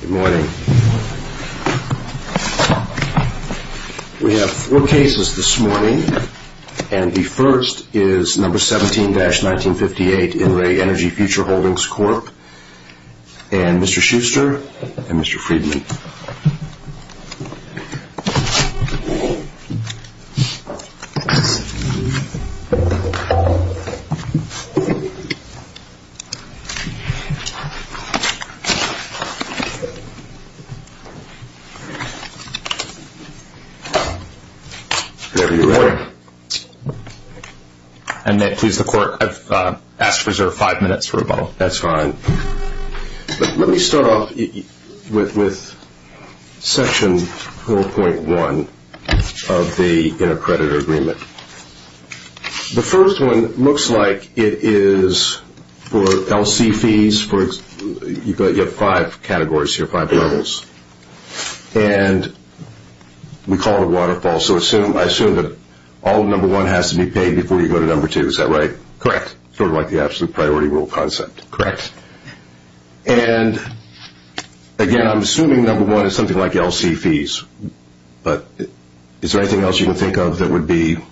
Good morning. We have four cases this morning and the first is number 17-1958 in the Energy Future v. Wilmington Trust. And may it please the Court, I've asked to reserve five minutes for rebuttal. That's fine. Let me start off with Section 4.1 of the Inter-Predator Agreement. The first one looks like it is for LC fees. You've got five categories here, five levels. And we call it a waterfall. So I assume that all of number one has to be paid before you go to number two. Is that right? Correct. Sort of like the absolute priority rule concept. Correct. And again, I'm assuming number one is something like LC fees. But is there anything else you can think of that would be paid?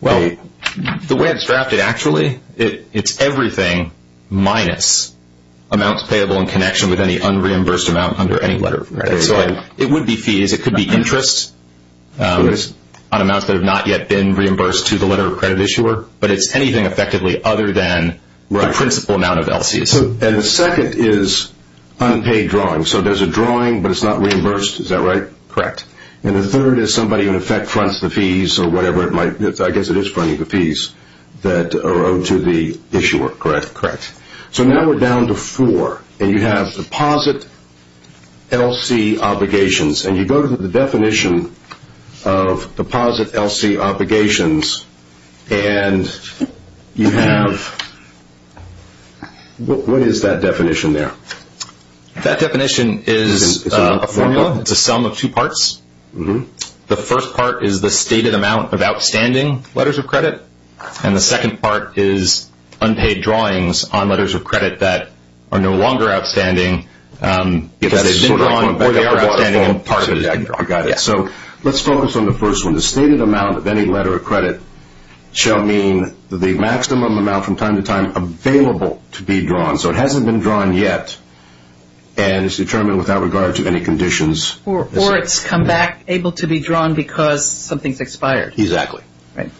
Well, the way it's drafted actually, it's everything minus amounts payable in connection with any unreimbursed amount under any letter. So it would be fees. It could be interest on amounts that have not yet been reimbursed to the letter of credit issuer. But it's anything effectively other than the principal amount of LC. And the second is unpaid drawing. So there's a drawing, but it's not reimbursed. Is that right? Correct. And the third is somebody in effect fronts the fees or whatever it might be. I guess it is fronting the fees that are owed to the issuer. Correct. So now we're down to four. And you have deposit LC obligations. And you go to the definition of deposit LC obligations. And you have – what is that definition there? That definition is a formula. It's a sum of two parts. The first part is the stated amount of outstanding letters of credit. And the second part is unpaid drawings on letters of credit that are no longer outstanding because they've been drawn or they are outstanding and part of it has been drawn. Got it. So let's focus on the first one. The stated amount of any letter of credit shall mean the maximum amount from time to time available to be drawn. So it hasn't been drawn yet. And it's determined without regard to any conditions. Or it's come back able to be drawn because something's expired. Exactly.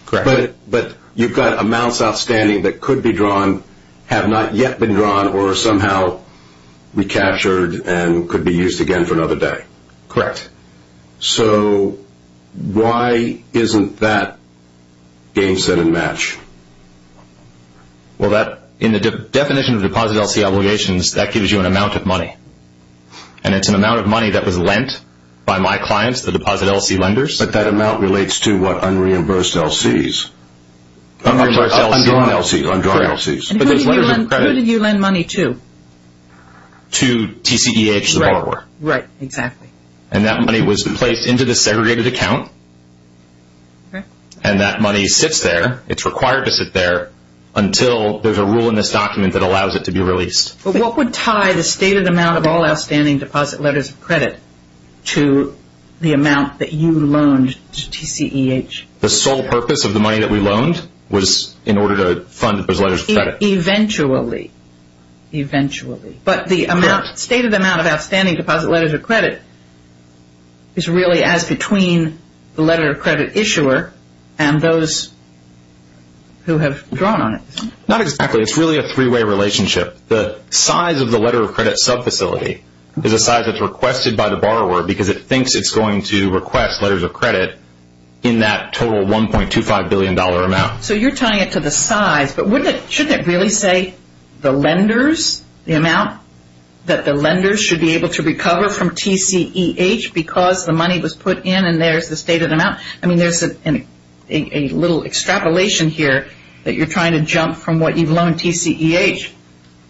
Correct. But you've got amounts outstanding that could be drawn, have not yet been drawn, or are somehow recaptured and could be used again for another day. Correct. So why isn't that game set and match? Well, in the definition of deposit LC obligations, that gives you an amount of money. And it's an amount of money that was lent by my clients, the deposit LC lenders. But that amount relates to what? Unreimbursed LC's? Unreimbursed LC's. Undrawn LC's. Correct. And who did you lend money to? To TCEH, the borrower. Right. Exactly. And that money was placed into the segregated account. Correct. And that money sits there. It's required to sit there until there's a rule in this document that allows it to be released. But what would tie the stated amount of all outstanding deposit letters of credit to the amount that you loaned to TCEH? The sole purpose of the money that we loaned was in order to fund those letters of credit. Eventually. Eventually. But the amount, stated amount of outstanding deposit letters of credit is really as between the letter of credit issuer and those who have drawn on it. Not exactly. It's really a three-way relationship. The size of the letter of credit sub-facility is the size that's requested by the borrower because it thinks it's going to request letters of credit in that total $1.25 billion amount. So you're tying it to the size, but shouldn't it really say the lenders? The amount that the lenders should be able to recover from TCEH because the money was put in and there's the stated amount? I mean, there's a little extrapolation here that you're trying to jump from what you've loaned TCEH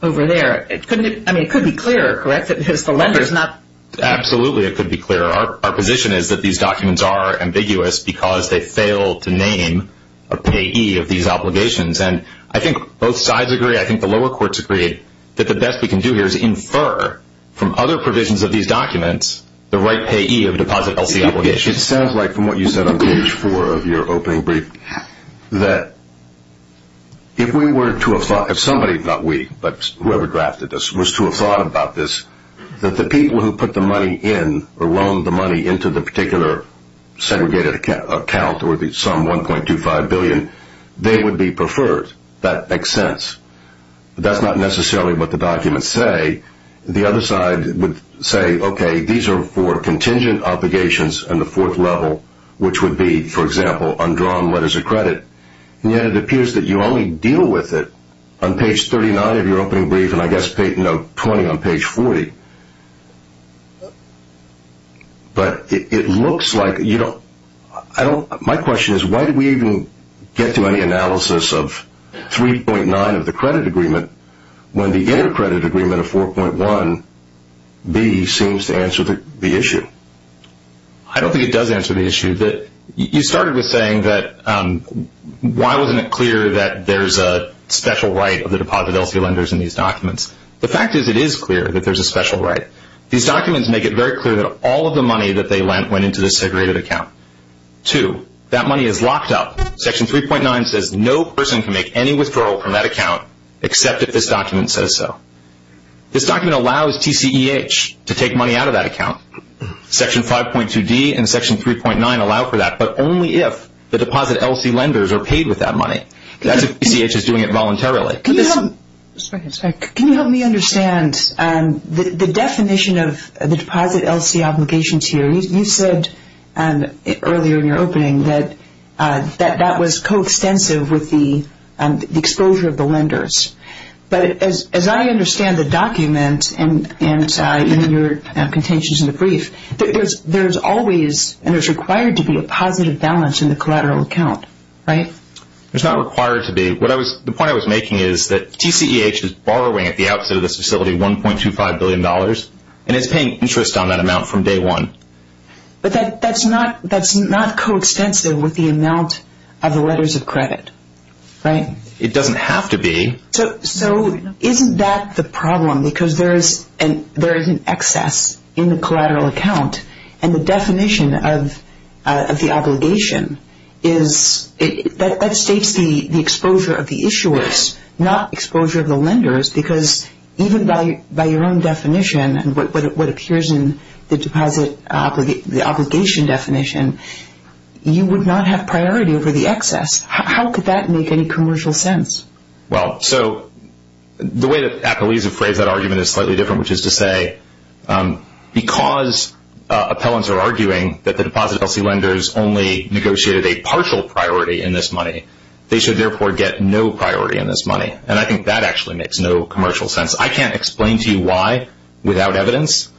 over there. I mean, it could be clearer, correct, that it's the lenders, not? Absolutely, it could be clearer. Our position is that these documents are ambiguous because they fail to name a payee of these obligations. And I think both sides agree. I think the lower courts agree that the best we can do here is infer from other provisions of these documents the right payee of deposit LC obligations. It sounds like from what you said on page four of your opening brief that if we were to have thought, if somebody, not we, but whoever drafted this, was to have thought about this, that the people who put the money in or loaned the money into the particular segregated account or the sum $1.25 billion, they would be preferred. That makes sense. But that's not necessarily what the documents say. The other side would say, okay, these are for contingent obligations on the fourth level, which would be, for example, undrawn letters of credit. And yet it appears that you only deal with it on page 39 of your opening brief and I guess note 20 on page 40. But it looks like, you know, my question is why do we even get to any analysis of 3.9 of the credit agreement when the intercredit agreement of 4.1b seems to answer the issue? I don't think it does answer the issue. You started with saying that why wasn't it clear that there's a special right of the deposit LC lenders in these documents? The fact is it is clear that there's a special right. These documents make it very clear that all of the money that they lent went into the segregated account. Two, that money is locked up. Section 3.9 says no person can make any withdrawal from that account except if this document says so. This document allows TCEH to take money out of that account. Section 5.2d and section 3.9 allow for that, but only if the deposit LC lenders are paid with that money. That's if TCEH is doing it voluntarily. Can you help me understand the definition of the deposit LC obligations here? You said earlier in your opening that that was coextensive with the exposure of the lenders. But as I understand the document and your contentions in the brief, there's always and there's required to be a positive balance in the collateral account, right? There's not required to be. The point I was making is that TCEH is borrowing at the outset of this facility $1.25 billion, and it's paying interest on that amount from day one. But that's not coextensive with the amount of the letters of credit, right? It doesn't have to be. So isn't that the problem because there is an excess in the collateral account, and the definition of the obligation is that states the exposure of the issuers, not exposure of the lenders, because even by your own definition and what appears in the deposit obligation definition, you would not have priority over the excess. How could that make any commercial sense? Well, so the way that Apolesia phrased that argument is slightly different, which is to say because appellants are arguing that the deposit LC lenders only negotiated a partial priority in this money, they should therefore get no priority in this money. And I think that actually makes no commercial sense. I can't explain to you why, without evidence,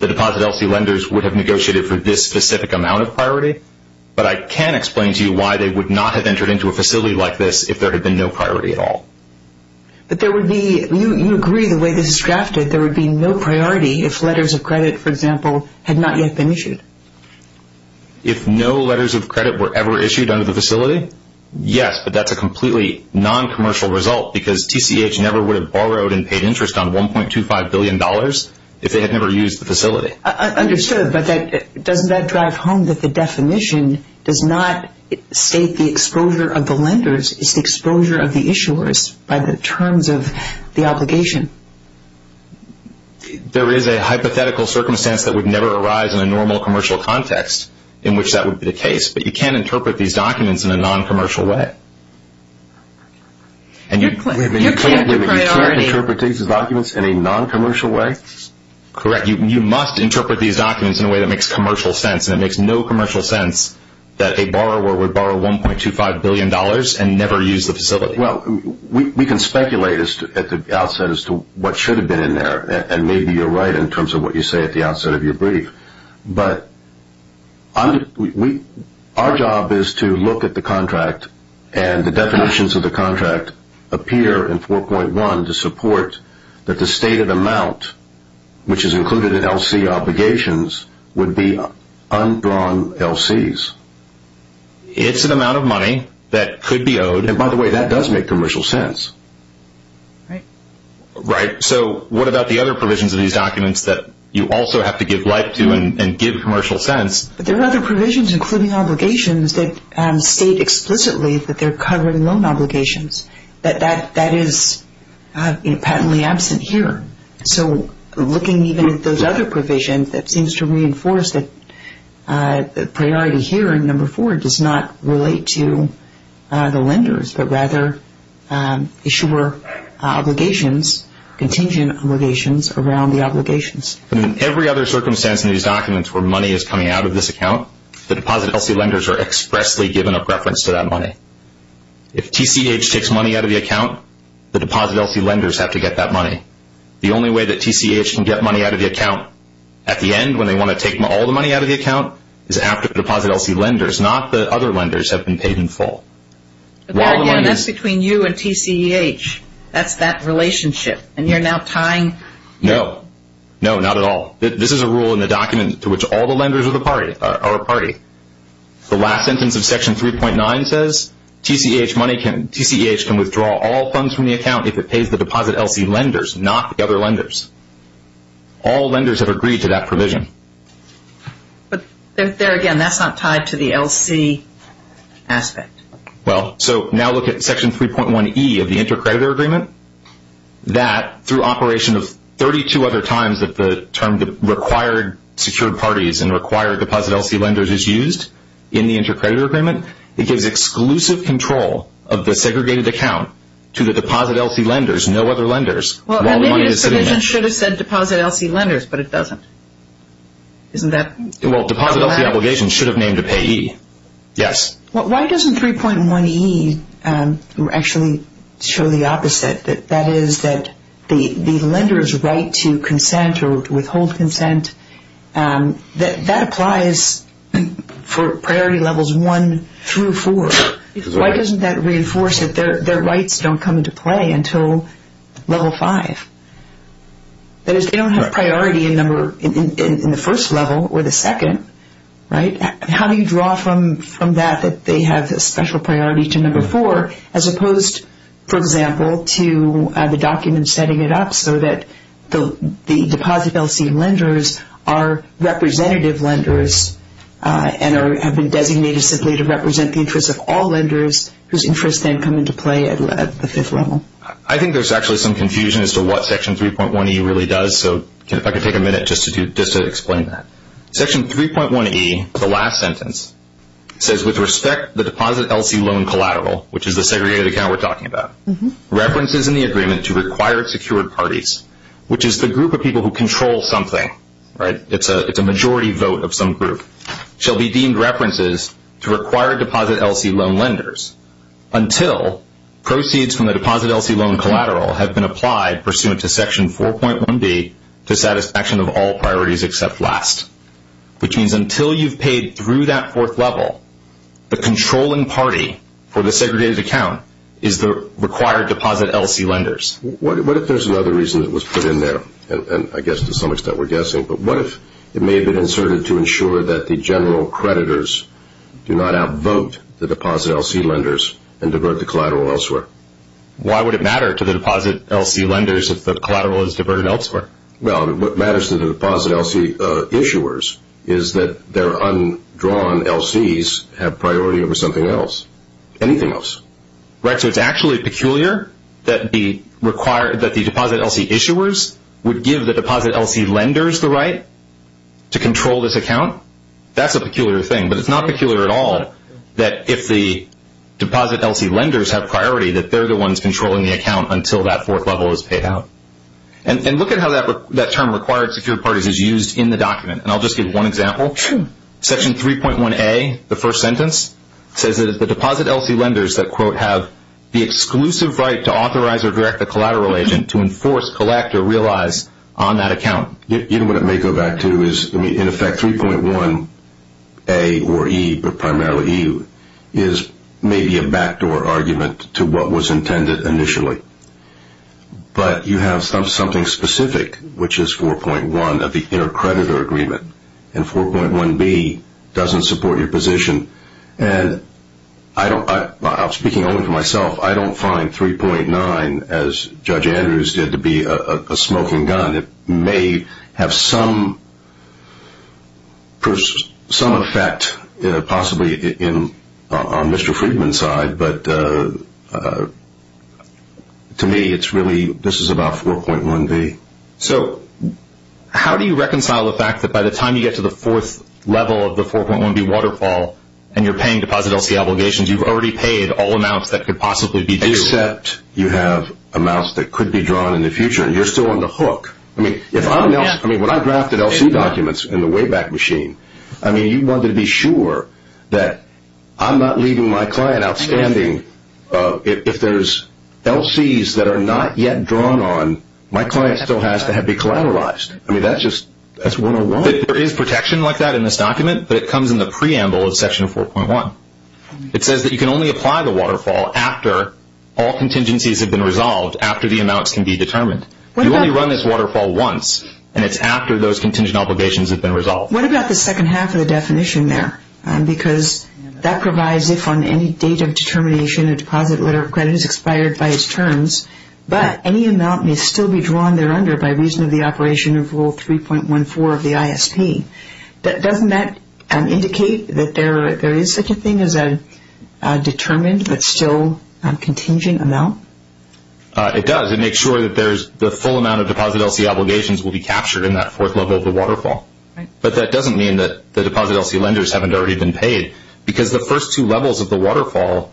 the deposit LC lenders would have negotiated for this specific amount of priority, but I can explain to you why they would not have entered into a facility like this if there had been no priority at all. But there would be, you agree the way this is drafted, there would be no priority if letters of credit, for example, had not yet been issued. If no letters of credit were ever issued under the facility? Yes, but that's a completely non-commercial result because TCH never would have borrowed and paid interest on $1.25 billion if they had never used the facility. Understood, but doesn't that drive home that the definition does not state the exposure of the lenders, it's the exposure of the issuers by the terms of the obligation? There is a hypothetical circumstance that would never arise in a normal commercial context in which that would be the case, but you can't interpret these documents in a non-commercial way. You can't interpret these documents in a non-commercial way? Correct, you must interpret these documents in a way that makes commercial sense, and it makes no commercial sense that a borrower would borrow $1.25 billion and never use the facility. Well, we can speculate at the outset as to what should have been in there, and maybe you're right in terms of what you say at the outset of your brief, but our job is to look at the contract and the definitions of the contract appear in 4.1 to support that the stated amount, which is included in LC obligations, would be undrawn LCs. It's an amount of money that could be owed, and by the way, that does make commercial sense. Right. Right, so what about the other provisions of these documents that you also have to give life to and give commercial sense? There are other provisions, including obligations, that state explicitly that they're covered in loan obligations, but that is patently absent here. So looking even at those other provisions, that seems to reinforce that the priority here in No. 4 does not relate to the lenders, but rather issuer obligations, contingent obligations around the obligations. In every other circumstance in these documents where money is coming out of this account, the deposit LC lenders are expressly given a preference to that money. If TCH takes money out of the account, the deposit LC lenders have to get that money. The only way that TCH can get money out of the account at the end when they want to take all the money out of the account is after the deposit LC lenders, not the other lenders, have been paid in full. Again, that's between you and TCH. That's that relationship, and you're now tying? No. No, not at all. This is a rule in the document to which all the lenders are a party. The last sentence of Section 3.9 says, TCH can withdraw all funds from the account if it pays the deposit LC lenders, not the other lenders. All lenders have agreed to that provision. But there again, that's not tied to the LC aspect. Well, so now look at Section 3.1e of the Intercreditor Agreement. That, through operation of 32 other times that the term required secured parties and required deposit LC lenders is used in the Intercreditor Agreement, it gives exclusive control of the segregated account to the deposit LC lenders, no other lenders. Well, maybe this provision should have said deposit LC lenders, but it doesn't. Well, deposit LC obligations should have named a payee. Yes. Why doesn't 3.1e actually show the opposite? That is that the lender's right to consent or withhold consent, that applies for priority levels 1 through 4. Why doesn't that reinforce that their rights don't come into play until level 5? That is, they don't have a priority in the first level or the second, right? How do you draw from that that they have a special priority to number 4 as opposed, for example, to the document setting it up so that the deposit LC lenders are representative lenders and have been designated simply to represent the interests of all lenders whose interests then come into play at the fifth level? I think there's actually some confusion as to what Section 3.1e really does, so if I could take a minute just to explain that. Section 3.1e, the last sentence, says, with respect to the deposit LC loan collateral, which is the segregated account we're talking about, references in the agreement to required secured parties, which is the group of people who control something, right? It's a majority vote of some group, shall be deemed references to required deposit LC loan lenders until proceeds from the deposit LC loan collateral have been applied pursuant to Section 4.1b to satisfaction of all priorities except last, which means until you've paid through that fourth level, the controlling party for the segregated account is the required deposit LC lenders. What if there's another reason that was put in there, and I guess to some extent we're guessing, but what if it may have been inserted to ensure that the general creditors do not outvote the deposit LC lenders and divert the collateral elsewhere? Why would it matter to the deposit LC lenders if the collateral is diverted elsewhere? Well, what matters to the deposit LC issuers is that their undrawn LCs have priority over something else, anything else. Right, so it's actually peculiar that the deposit LC issuers would give the deposit LC lenders the right to control this account? That's a peculiar thing, but it's not peculiar at all that if the deposit LC lenders have priority, that they're the ones controlling the account until that fourth level is paid out. And look at how that term, required secured parties, is used in the document, and I'll just give one example. Section 3.1A, the first sentence, says that it's the deposit LC lenders that, quote, have the exclusive right to authorize or direct the collateral agent to enforce, collect, or realize on that account. You know what it may go back to is, in effect, 3.1A or E, but primarily E, is maybe a backdoor argument to what was intended initially. But you have something specific, which is 4.1 of the intercreditor agreement, and 4.1B doesn't support your position. And I'm speaking only for myself. I don't find 3.9, as Judge Andrews did, to be a smoking gun. It may have some effect possibly on Mr. Friedman's side, but to me, this is about 4.1B. So how do you reconcile the fact that by the time you get to the fourth level of the 4.1B waterfall and you're paying deposit LC obligations, you've already paid all amounts that could possibly be due? Except you have amounts that could be drawn in the future, and you're still on the hook. I mean, when I drafted LC documents in the Wayback Machine, I mean, you wanted to be sure that I'm not leaving my client outstanding. If there's LCs that are not yet drawn on, my client still has to be collateralized. I mean, that's just, that's 101. There is protection like that in this document, but it comes in the preamble of Section 4.1. It says that you can only apply the waterfall after all contingencies have been resolved, after the amounts can be determined. You only run this waterfall once, and it's after those contingent obligations have been resolved. What about the second half of the definition there? Because that provides if on any date of determination a deposit letter of credit is expired by its terms, but any amount may still be drawn there under by reason of the operation of Rule 3.14 of the ISP. Doesn't that indicate that there is such a thing as a determined but still contingent amount? It does. It makes sure that the full amount of deposit LC obligations will be captured in that fourth level of the waterfall. But that doesn't mean that the deposit LC lenders haven't already been paid, because the first two levels of the waterfall,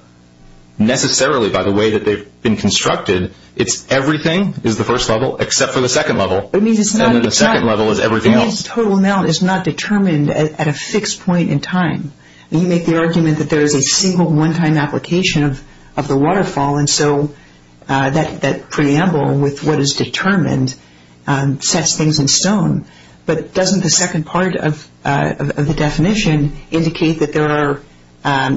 necessarily by the way that they've been constructed, it's everything is the first level except for the second level, and then the second level is everything else. But this total amount is not determined at a fixed point in time. You make the argument that there is a single one-time application of the waterfall, and so that preamble with what is determined sets things in stone. But doesn't the second part of the definition indicate that there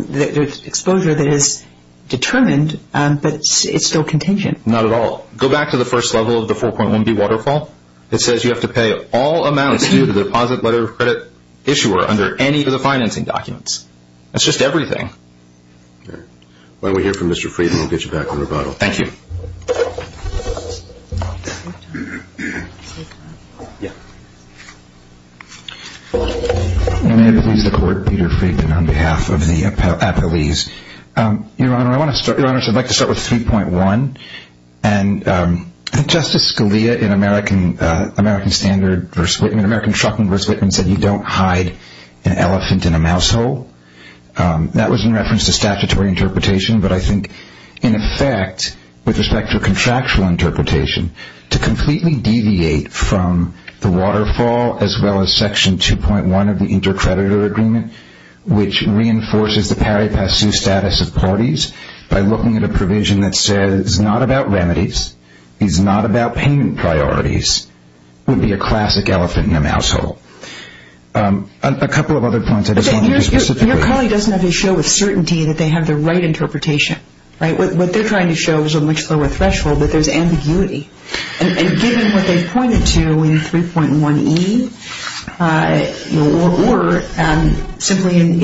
is exposure that is determined, but it's still contingent? Not at all. Go back to the first level of the 4.1b waterfall. It says you have to pay all amounts due to the deposit letter of credit issuer under any of the financing documents. That's just everything. Why don't we hear from Mr. Friedman and get you back on the rebuttal. Thank you. May it please the Court, Peter Friedman on behalf of the appellees. Your Honor, I want to start with 3.1. Justice Scalia in American Truckman v. Whitman said you don't hide an elephant in a mouse hole. That was in reference to statutory interpretation, but I think in effect with respect to contractual interpretation, to completely deviate from the waterfall as well as Section 2.1 of the Intercreditor Agreement, which reinforces the pari passu status of parties by looking at a provision that says it's not about remedies, it's not about payment priorities, would be a classic elephant in a mouse hole. A couple of other points. Your colleague doesn't have to show with certainty that they have the right interpretation. What they're trying to show is a much lower threshold, but there's ambiguity. And given what they pointed to in 3.1e or simply in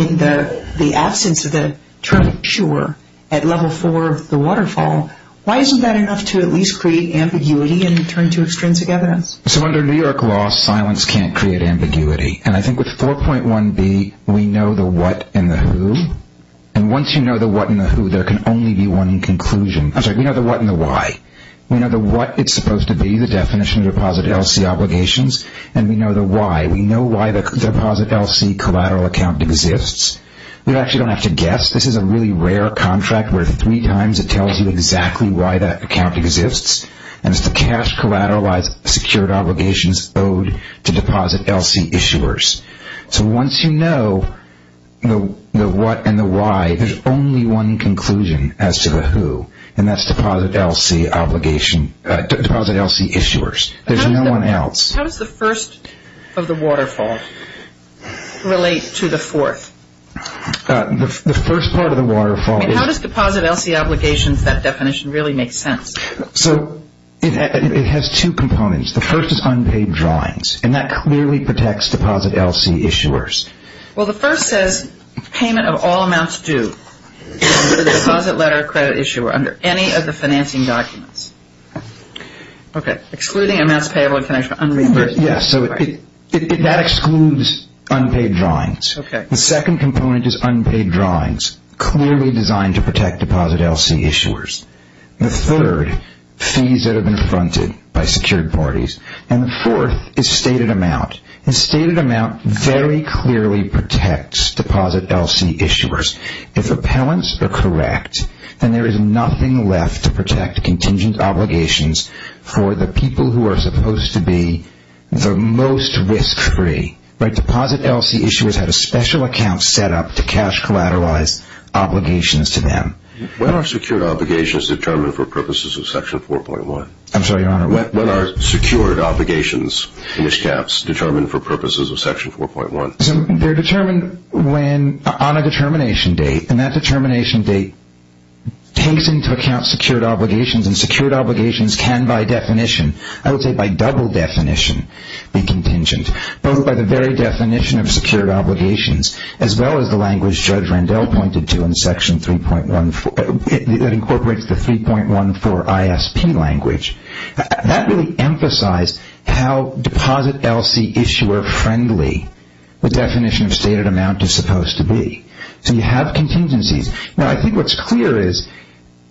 the absence of the term sure at Level 4 of the waterfall, why isn't that enough to at least create ambiguity and turn to extrinsic evidence? So under New York law, silence can't create ambiguity. And I think with 4.1b, we know the what and the who. And once you know the what and the who, there can only be one conclusion. I'm sorry, we know the what and the why. We know the what it's supposed to be, the definition of deposit LC obligations, and we know the why. We know why the deposit LC collateral account exists. We actually don't have to guess. This is a really rare contract where three times it tells you exactly why that account exists, and it's the cash collateralized secured obligations owed to deposit LC issuers. So once you know the what and the why, there's only one conclusion as to the who, and that's deposit LC obligation, deposit LC issuers. There's no one else. How does the first of the waterfall relate to the fourth? The first part of the waterfall is- And how does deposit LC obligations, that definition, really make sense? So it has two components. The first is unpaid drawings, and that clearly protects deposit LC issuers. Well, the first says payment of all amounts due to the deposit, letter, or credit issuer under any of the financing documents. Okay. Excluding amounts payable in connection with unreimbursed- Yes, so that excludes unpaid drawings. Okay. The second component is unpaid drawings, clearly designed to protect deposit LC issuers. The third, fees that have been fronted by secured parties, and the fourth is stated amount. And stated amount very clearly protects deposit LC issuers. If appellants are correct, then there is nothing left to protect contingent obligations for the people who are supposed to be the most risk-free, right? Deposit LC issuers have a special account set up to cash collateralized obligations to them. When are secured obligations determined for purposes of Section 4.1? I'm sorry, Your Honor. When are secured obligations, English caps, determined for purposes of Section 4.1? They're determined on a determination date, and that determination date takes into account secured obligations, and secured obligations can, by definition, I would say by double definition, be contingent, both by the very definition of secured obligations, as well as the language Judge Randell pointed to in Section 3.14, that incorporates the 3.14 ISP language. That really emphasized how deposit LC issuer friendly the definition of stated amount is supposed to be. So you have contingencies. Now, I think what's clear is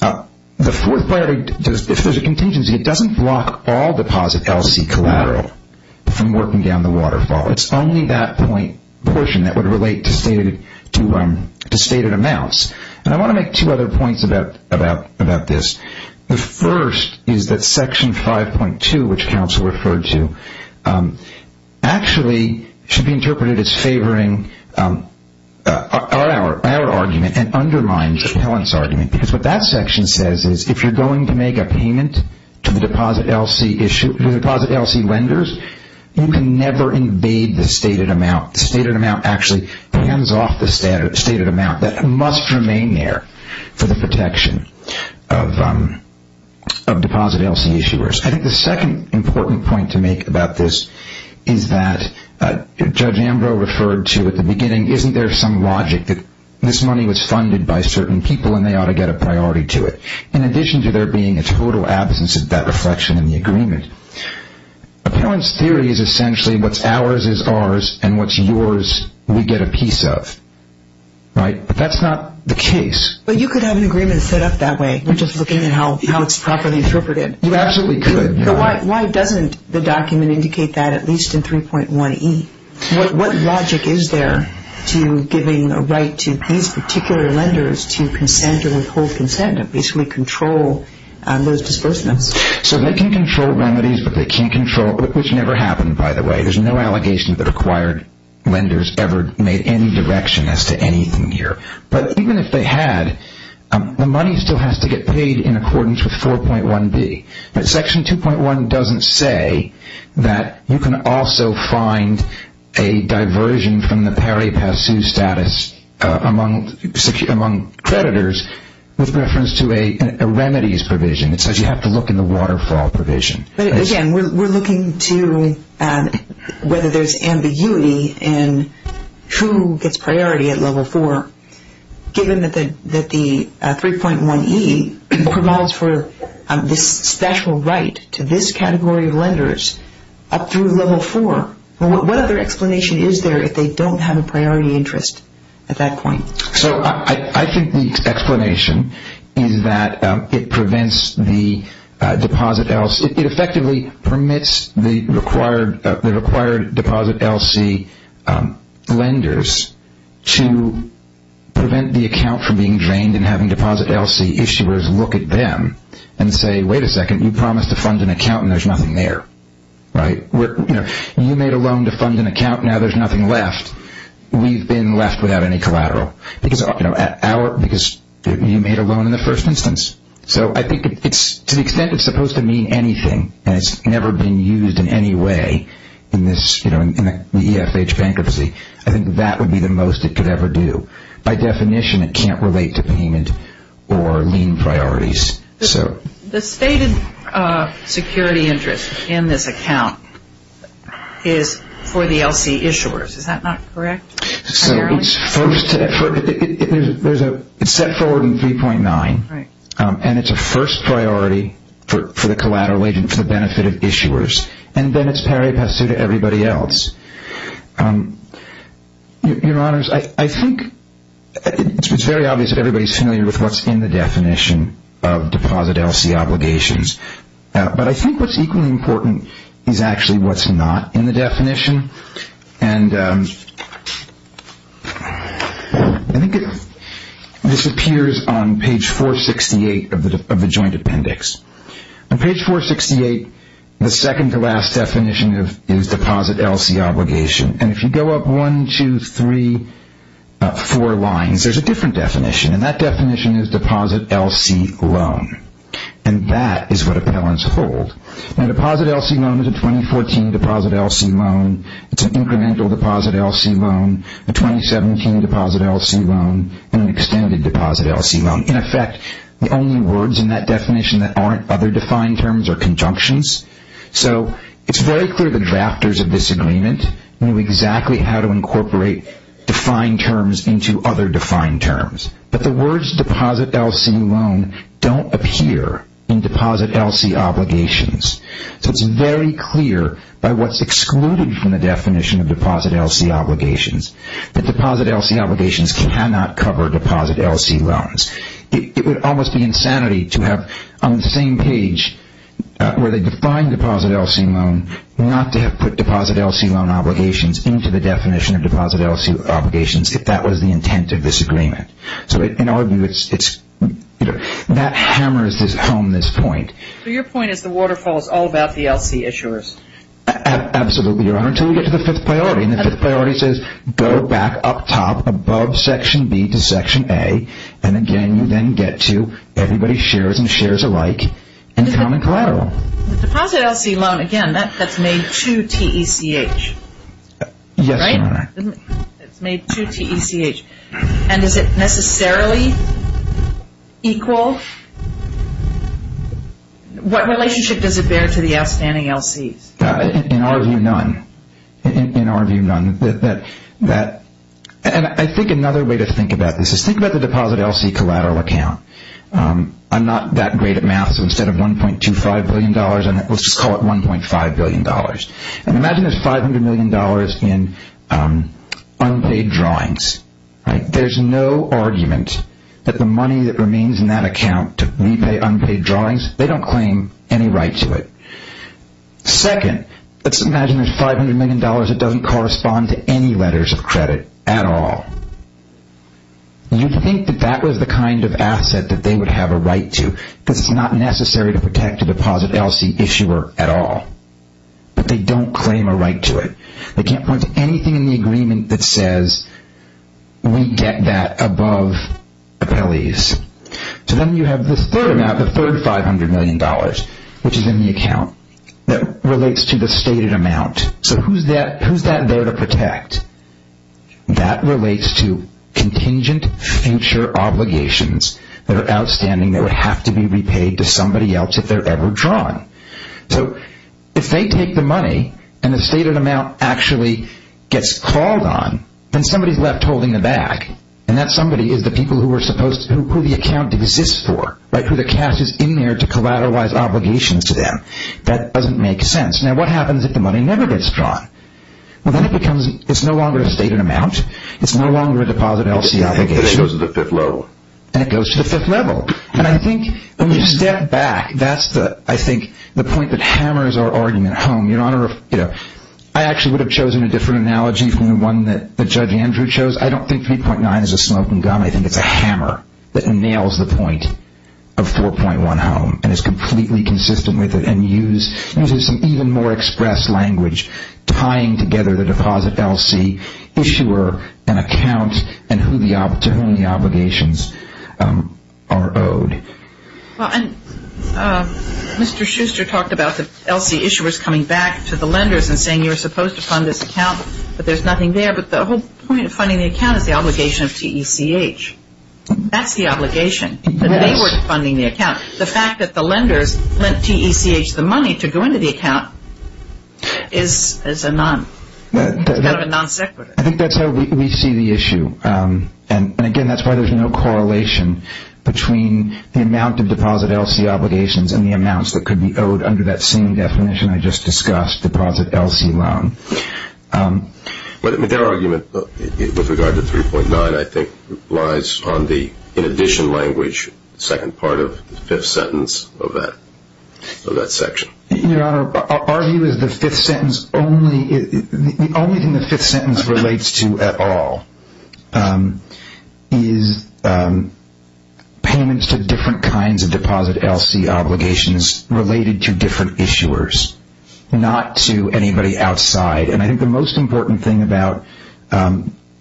the fourth priority, if there's a contingency, it doesn't block all deposit LC collateral from working down the waterfall. It's only that portion that would relate to stated amounts. And I want to make two other points about this. The first is that Section 5.2, which counsel referred to, actually should be interpreted as favoring our argument and undermines the appellant's argument, because what that section says is if you're going to make a payment to the deposit LC lenders, you can never invade the stated amount. The stated amount actually pans off the stated amount. That must remain there for the protection of deposit LC issuers. I think the second important point to make about this is that Judge Ambrose referred to at the beginning, isn't there some logic that this money was funded by certain people and they ought to get a priority to it? In addition to there being a total absence of that reflection in the agreement, appellant's theory is essentially what's ours is ours and what's yours we get a piece of. But that's not the case. But you could have an agreement set up that way, just looking at how it's properly interpreted. You absolutely could. But why doesn't the document indicate that at least in 3.1E? What logic is there to giving a right to these particular lenders to consent or withhold consent and basically control those disbursements? So they can control remedies but they can't control, which never happened by the way. There's no allegation that acquired lenders ever made any direction as to anything here. But even if they had, the money still has to get paid in accordance with 4.1B. But Section 2.1 doesn't say that you can also find a diversion from the pari passu status among creditors with reference to a remedies provision. It says you have to look in the waterfall provision. But again, we're looking to whether there's ambiguity in who gets priority at Level 4. Given that the 3.1E promulgates for this special right to this category of lenders up through Level 4, what other explanation is there if they don't have a priority interest at that point? So I think the explanation is that it prevents the deposit LC. It effectively permits the required deposit LC lenders to prevent the account from being drained and having deposit LC issuers look at them and say, wait a second, you promised to fund an account and there's nothing there. You made a loan to fund an account and now there's nothing left. We've been left without any collateral because you made a loan in the first instance. So I think to the extent it's supposed to mean anything and it's never been used in any way in the EFH bankruptcy, I think that would be the most it could ever do. By definition, it can't relate to payment or lien priorities. The stated security interest in this account is for the LC issuers, is that not correct? So it's set forward in 3.9 and it's a first priority for the collateral agent for the benefit of issuers and then it's pari passu to everybody else. Your Honors, I think it's very obvious that everybody's familiar with what's in the definition of deposit LC obligations. But I think what's equally important is actually what's not in the definition. And I think this appears on page 468 of the joint appendix. On page 468, the second to last definition is deposit LC obligation. And if you go up one, two, three, four lines, there's a different definition. And that definition is deposit LC loan. And that is what appellants hold. Now deposit LC loan is a 2014 deposit LC loan. It's an incremental deposit LC loan, a 2017 deposit LC loan, and an extended deposit LC loan. In effect, the only words in that definition that aren't other defined terms are conjunctions. So it's very clear the drafters of this agreement knew exactly how to incorporate defined terms into other defined terms. But the words deposit LC loan don't appear in deposit LC obligations. So it's very clear by what's excluded from the definition of deposit LC obligations that deposit LC obligations cannot cover deposit LC loans. It would almost be insanity to have on the same page where they define deposit LC loan, not to have put deposit LC loan obligations into the definition of deposit LC obligations if that was the intent of this agreement. So in our view, that hammers home this point. So your point is the waterfall is all about the LC issuers? Absolutely, Your Honor, until we get to the fifth priority. And the fifth priority says go back up top above section B to section A and, again, you then get to everybody shares and shares alike and common collateral. The deposit LC loan, again, that's made to TECH. Yes, Your Honor. It's made to TECH. And is it necessarily equal? What relationship does it bear to the outstanding LCs? In our view, none. In our view, none. And I think another way to think about this is think about the deposit LC collateral account. I'm not that great at math, so instead of $1.25 billion, let's just call it $1.5 billion. And imagine there's $500 million in unpaid drawings. There's no argument that the money that remains in that account to repay unpaid drawings, they don't claim any right to it. Second, let's imagine there's $500 million that doesn't correspond to any letters of credit at all. You'd think that that was the kind of asset that they would have a right to because it's not necessary to protect a deposit LC issuer at all. But they don't claim a right to it. They can't point to anything in the agreement that says we get that above appellees. So then you have the third amount, the third $500 million, which is in the account that relates to the stated amount. So who's that there to protect? That relates to contingent future obligations that are outstanding that would have to be repaid to somebody else if they're ever drawn. So if they take the money and the stated amount actually gets called on, then somebody's left holding the bag. And that somebody is the people who the account exists for, who the cash is in there to collateralize obligations to them. That doesn't make sense. Now what happens if the money never gets drawn? Well, then it's no longer a stated amount. It's no longer a deposit LC obligation. And it goes to the fifth level. And it goes to the fifth level. And I think when you step back, that's, I think, the point that hammers our argument home. Your Honor, I actually would have chosen a different analogy from the one that Judge Andrew chose. I don't think 3.9 is a smoking gun. I think it's a hammer that nails the point of 4.1 home and is completely consistent with it and uses even more express language tying together the deposit LC, issuer, and account, and to whom the obligations are owed. Well, and Mr. Schuster talked about the LC issuers coming back to the lenders and saying you were supposed to fund this account, but there's nothing there. But the whole point of funding the account is the obligation of TECH. That's the obligation, that they were funding the account. The fact that the lenders lent TECH the money to go into the account is kind of a non sequitur. I think that's how we see the issue. And, again, that's why there's no correlation between the amount of deposit LC obligations and the amounts that could be owed under that same definition I just discussed, deposit LC loan. But their argument with regard to 3.9, I think, lies on the, in addition language, second part of the fifth sentence of that section. Your Honor, our view is the fifth sentence only, the only thing the fifth sentence relates to at all is payments to different kinds of deposit LC obligations related to different issuers, not to anybody outside. And I think the most important thing about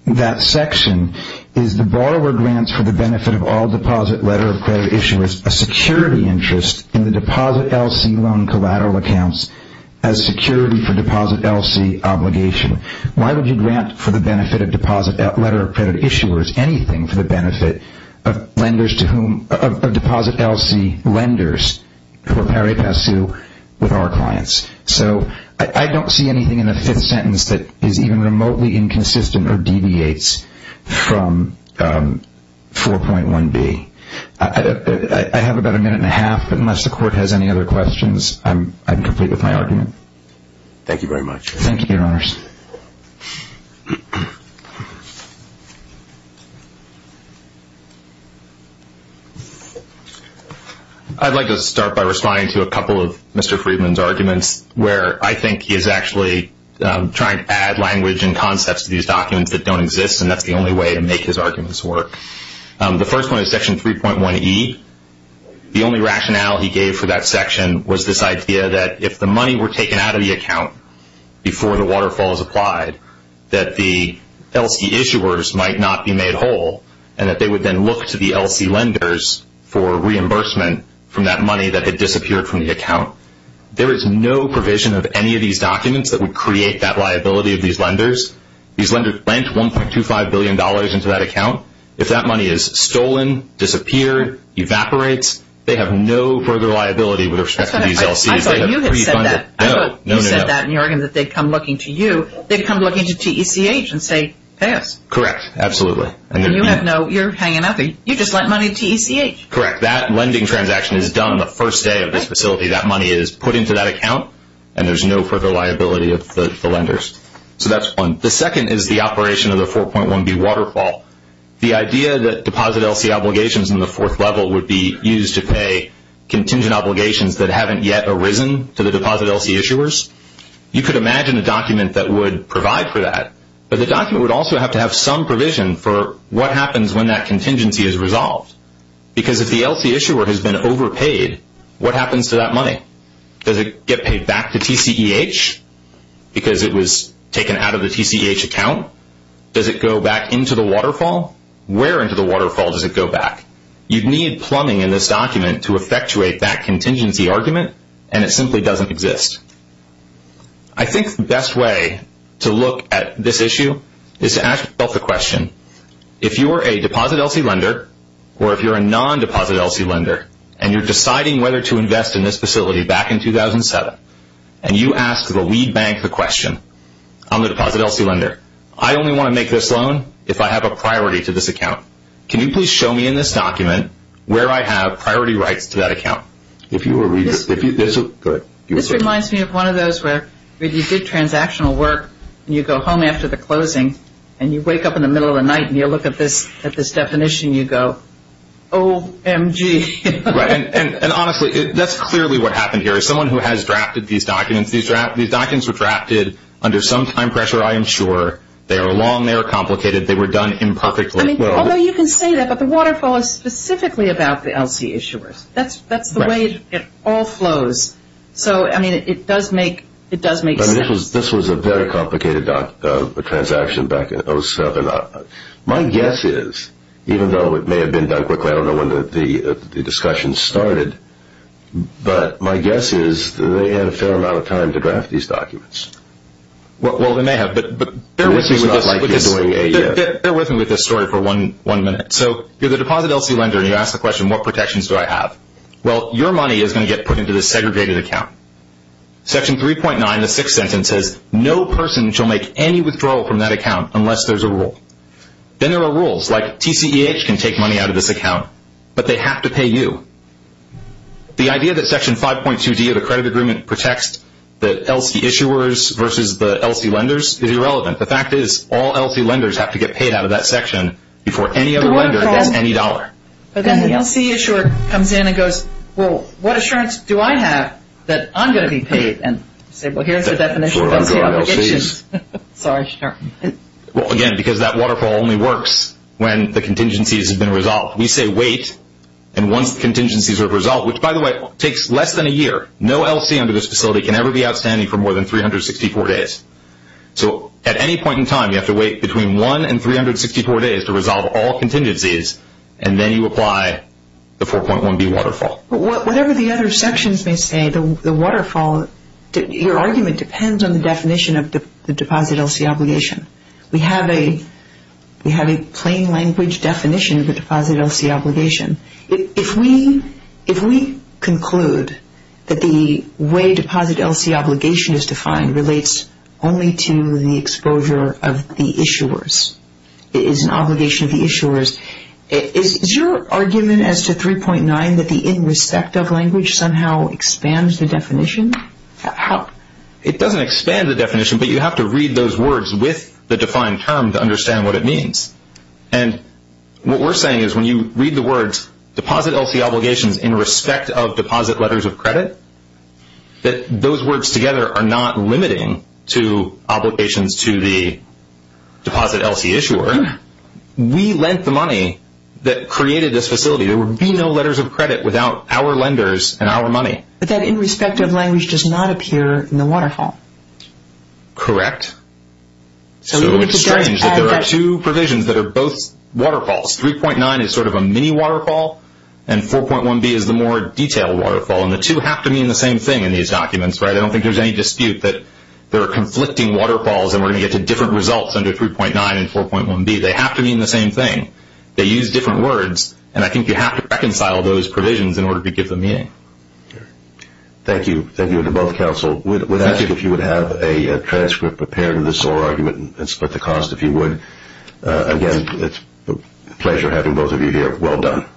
that section is the borrower grants for the benefit of all deposit letter of credit issuers a security interest in the deposit LC loan collateral accounts as security for deposit LC obligation. Why would you grant for the benefit of deposit letter of credit issuers anything for the benefit of lenders to whom, of deposit LC lenders who are pari passu with our clients? So I don't see anything in the fifth sentence that is even remotely inconsistent or deviates from 4.1b. I have about a minute and a half, but unless the Court has any other questions, I'm complete with my argument. Thank you very much. Thank you, Your Honors. I'd like to start by responding to a couple of Mr. Friedman's arguments, where I think he is actually trying to add language and concepts to these documents that don't exist, and that's the only way to make his arguments work. The first one is Section 3.1e. The only rationale he gave for that section was this idea that if the money were taken out of the account before the waterfall is applied, that the LC issuers might not be made whole, and that they would then look to the LC lenders for reimbursement from that money that had disappeared from the account. There is no provision of any of these documents that would create that liability of these lenders. These lenders lent $1.25 billion into that account. If that money is stolen, disappeared, evaporates, they have no further liability with respect to these LC's. I thought you had said that. No, no, no. I thought you said that in your argument that they'd come looking to you. They'd come looking to TECH and say, pass. Correct, absolutely. And you're hanging up. You just lent money to TECH. Correct. That lending transaction is done the first day of this facility. That money is put into that account, and there's no further liability of the lenders. So that's one. The second is the operation of the 4.1b waterfall. The idea that deposit LC obligations in the fourth level would be used to pay contingent obligations that haven't yet arisen to the deposit LC issuers, you could imagine a document that would provide for that, but the document would also have to have some provision for what happens when that contingency is resolved. Because if the LC issuer has been overpaid, what happens to that money? Does it get paid back to TCEH because it was taken out of the TCEH account? Does it go back into the waterfall? Where into the waterfall does it go back? You'd need plumbing in this document to effectuate that contingency argument, and it simply doesn't exist. I think the best way to look at this issue is to ask yourself the question, if you are a deposit LC lender or if you're a non-deposit LC lender, and you're deciding whether to invest in this facility back in 2007, and you ask the lead bank the question on the deposit LC lender, I only want to make this loan if I have a priority to this account. Can you please show me in this document where I have priority rights to that account? This reminds me of one of those where you did transactional work, and you go home after the closing, and you wake up in the middle of the night, and you look at this definition, and you go, OMG. And honestly, that's clearly what happened here. As someone who has drafted these documents, these documents were drafted under some time pressure, I am sure. They are long, they are complicated, they were done imperfectly. Although you can say that, but the waterfall is specifically about the LC issuers. That's the way it all flows. So, I mean, it does make sense. This was a very complicated transaction back in 2007. My guess is, even though it may have been done quickly, I don't know when the discussion started, but my guess is they had a fair amount of time to draft these documents. Well, they may have, but bear with me with this story for one minute. So, you're the deposit LC lender, and you ask the question, what protections do I have? Well, your money is going to get put into this segregated account. Section 3.9, the sixth sentence says, no person shall make any withdrawal from that account unless there's a rule. Then there are rules, like TCEH can take money out of this account, but they have to pay you. The idea that Section 5.2D of the credit agreement protects the LC issuers versus the LC lenders is irrelevant. The fact is, all LC lenders have to get paid out of that section before any other lender gets any dollar. But then the LC issuer comes in and goes, well, what assurance do I have that I'm going to be paid? And you say, well, here's the definition of LC obligations. Well, again, because that waterfall only works when the contingencies have been resolved. We say wait, and once the contingencies are resolved, which, by the way, takes less than a year. No LC under this facility can ever be outstanding for more than 364 days. So at any point in time, you have to wait between one and 364 days to resolve all contingencies, and then you apply the 4.1B waterfall. Whatever the other sections may say, the waterfall, your argument depends on the definition of the deposit LC obligation. We have a plain language definition of the deposit LC obligation. If we conclude that the way deposit LC obligation is defined relates only to the exposure of the issuers, it is an obligation of the issuers, is your argument as to 3.9 that the in respect of language somehow expands the definition? It doesn't expand the definition, but you have to read those words with the defined term to understand what it means. And what we're saying is when you read the words deposit LC obligations in respect of deposit letters of credit, that those words together are not limiting to obligations to the deposit LC issuer. We lent the money that created this facility. There would be no letters of credit without our lenders and our money. But that in respect of language does not appear in the waterfall. Correct. So it's strange that there are two provisions that are both waterfalls. 3.9 is sort of a mini waterfall, and 4.1B is the more detailed waterfall. And the two have to mean the same thing in these documents, right? I don't think there's any dispute that there are conflicting waterfalls, and we're going to get to different results under 3.9 and 4.1B. They have to mean the same thing. They use different words, and I think you have to reconcile those provisions in order to give them meaning. Thank you. Thank you to both counsel. I think if you would have a transcript prepared in this oral argument and split the cost, if you would. Again, it's a pleasure having both of you here. Well done.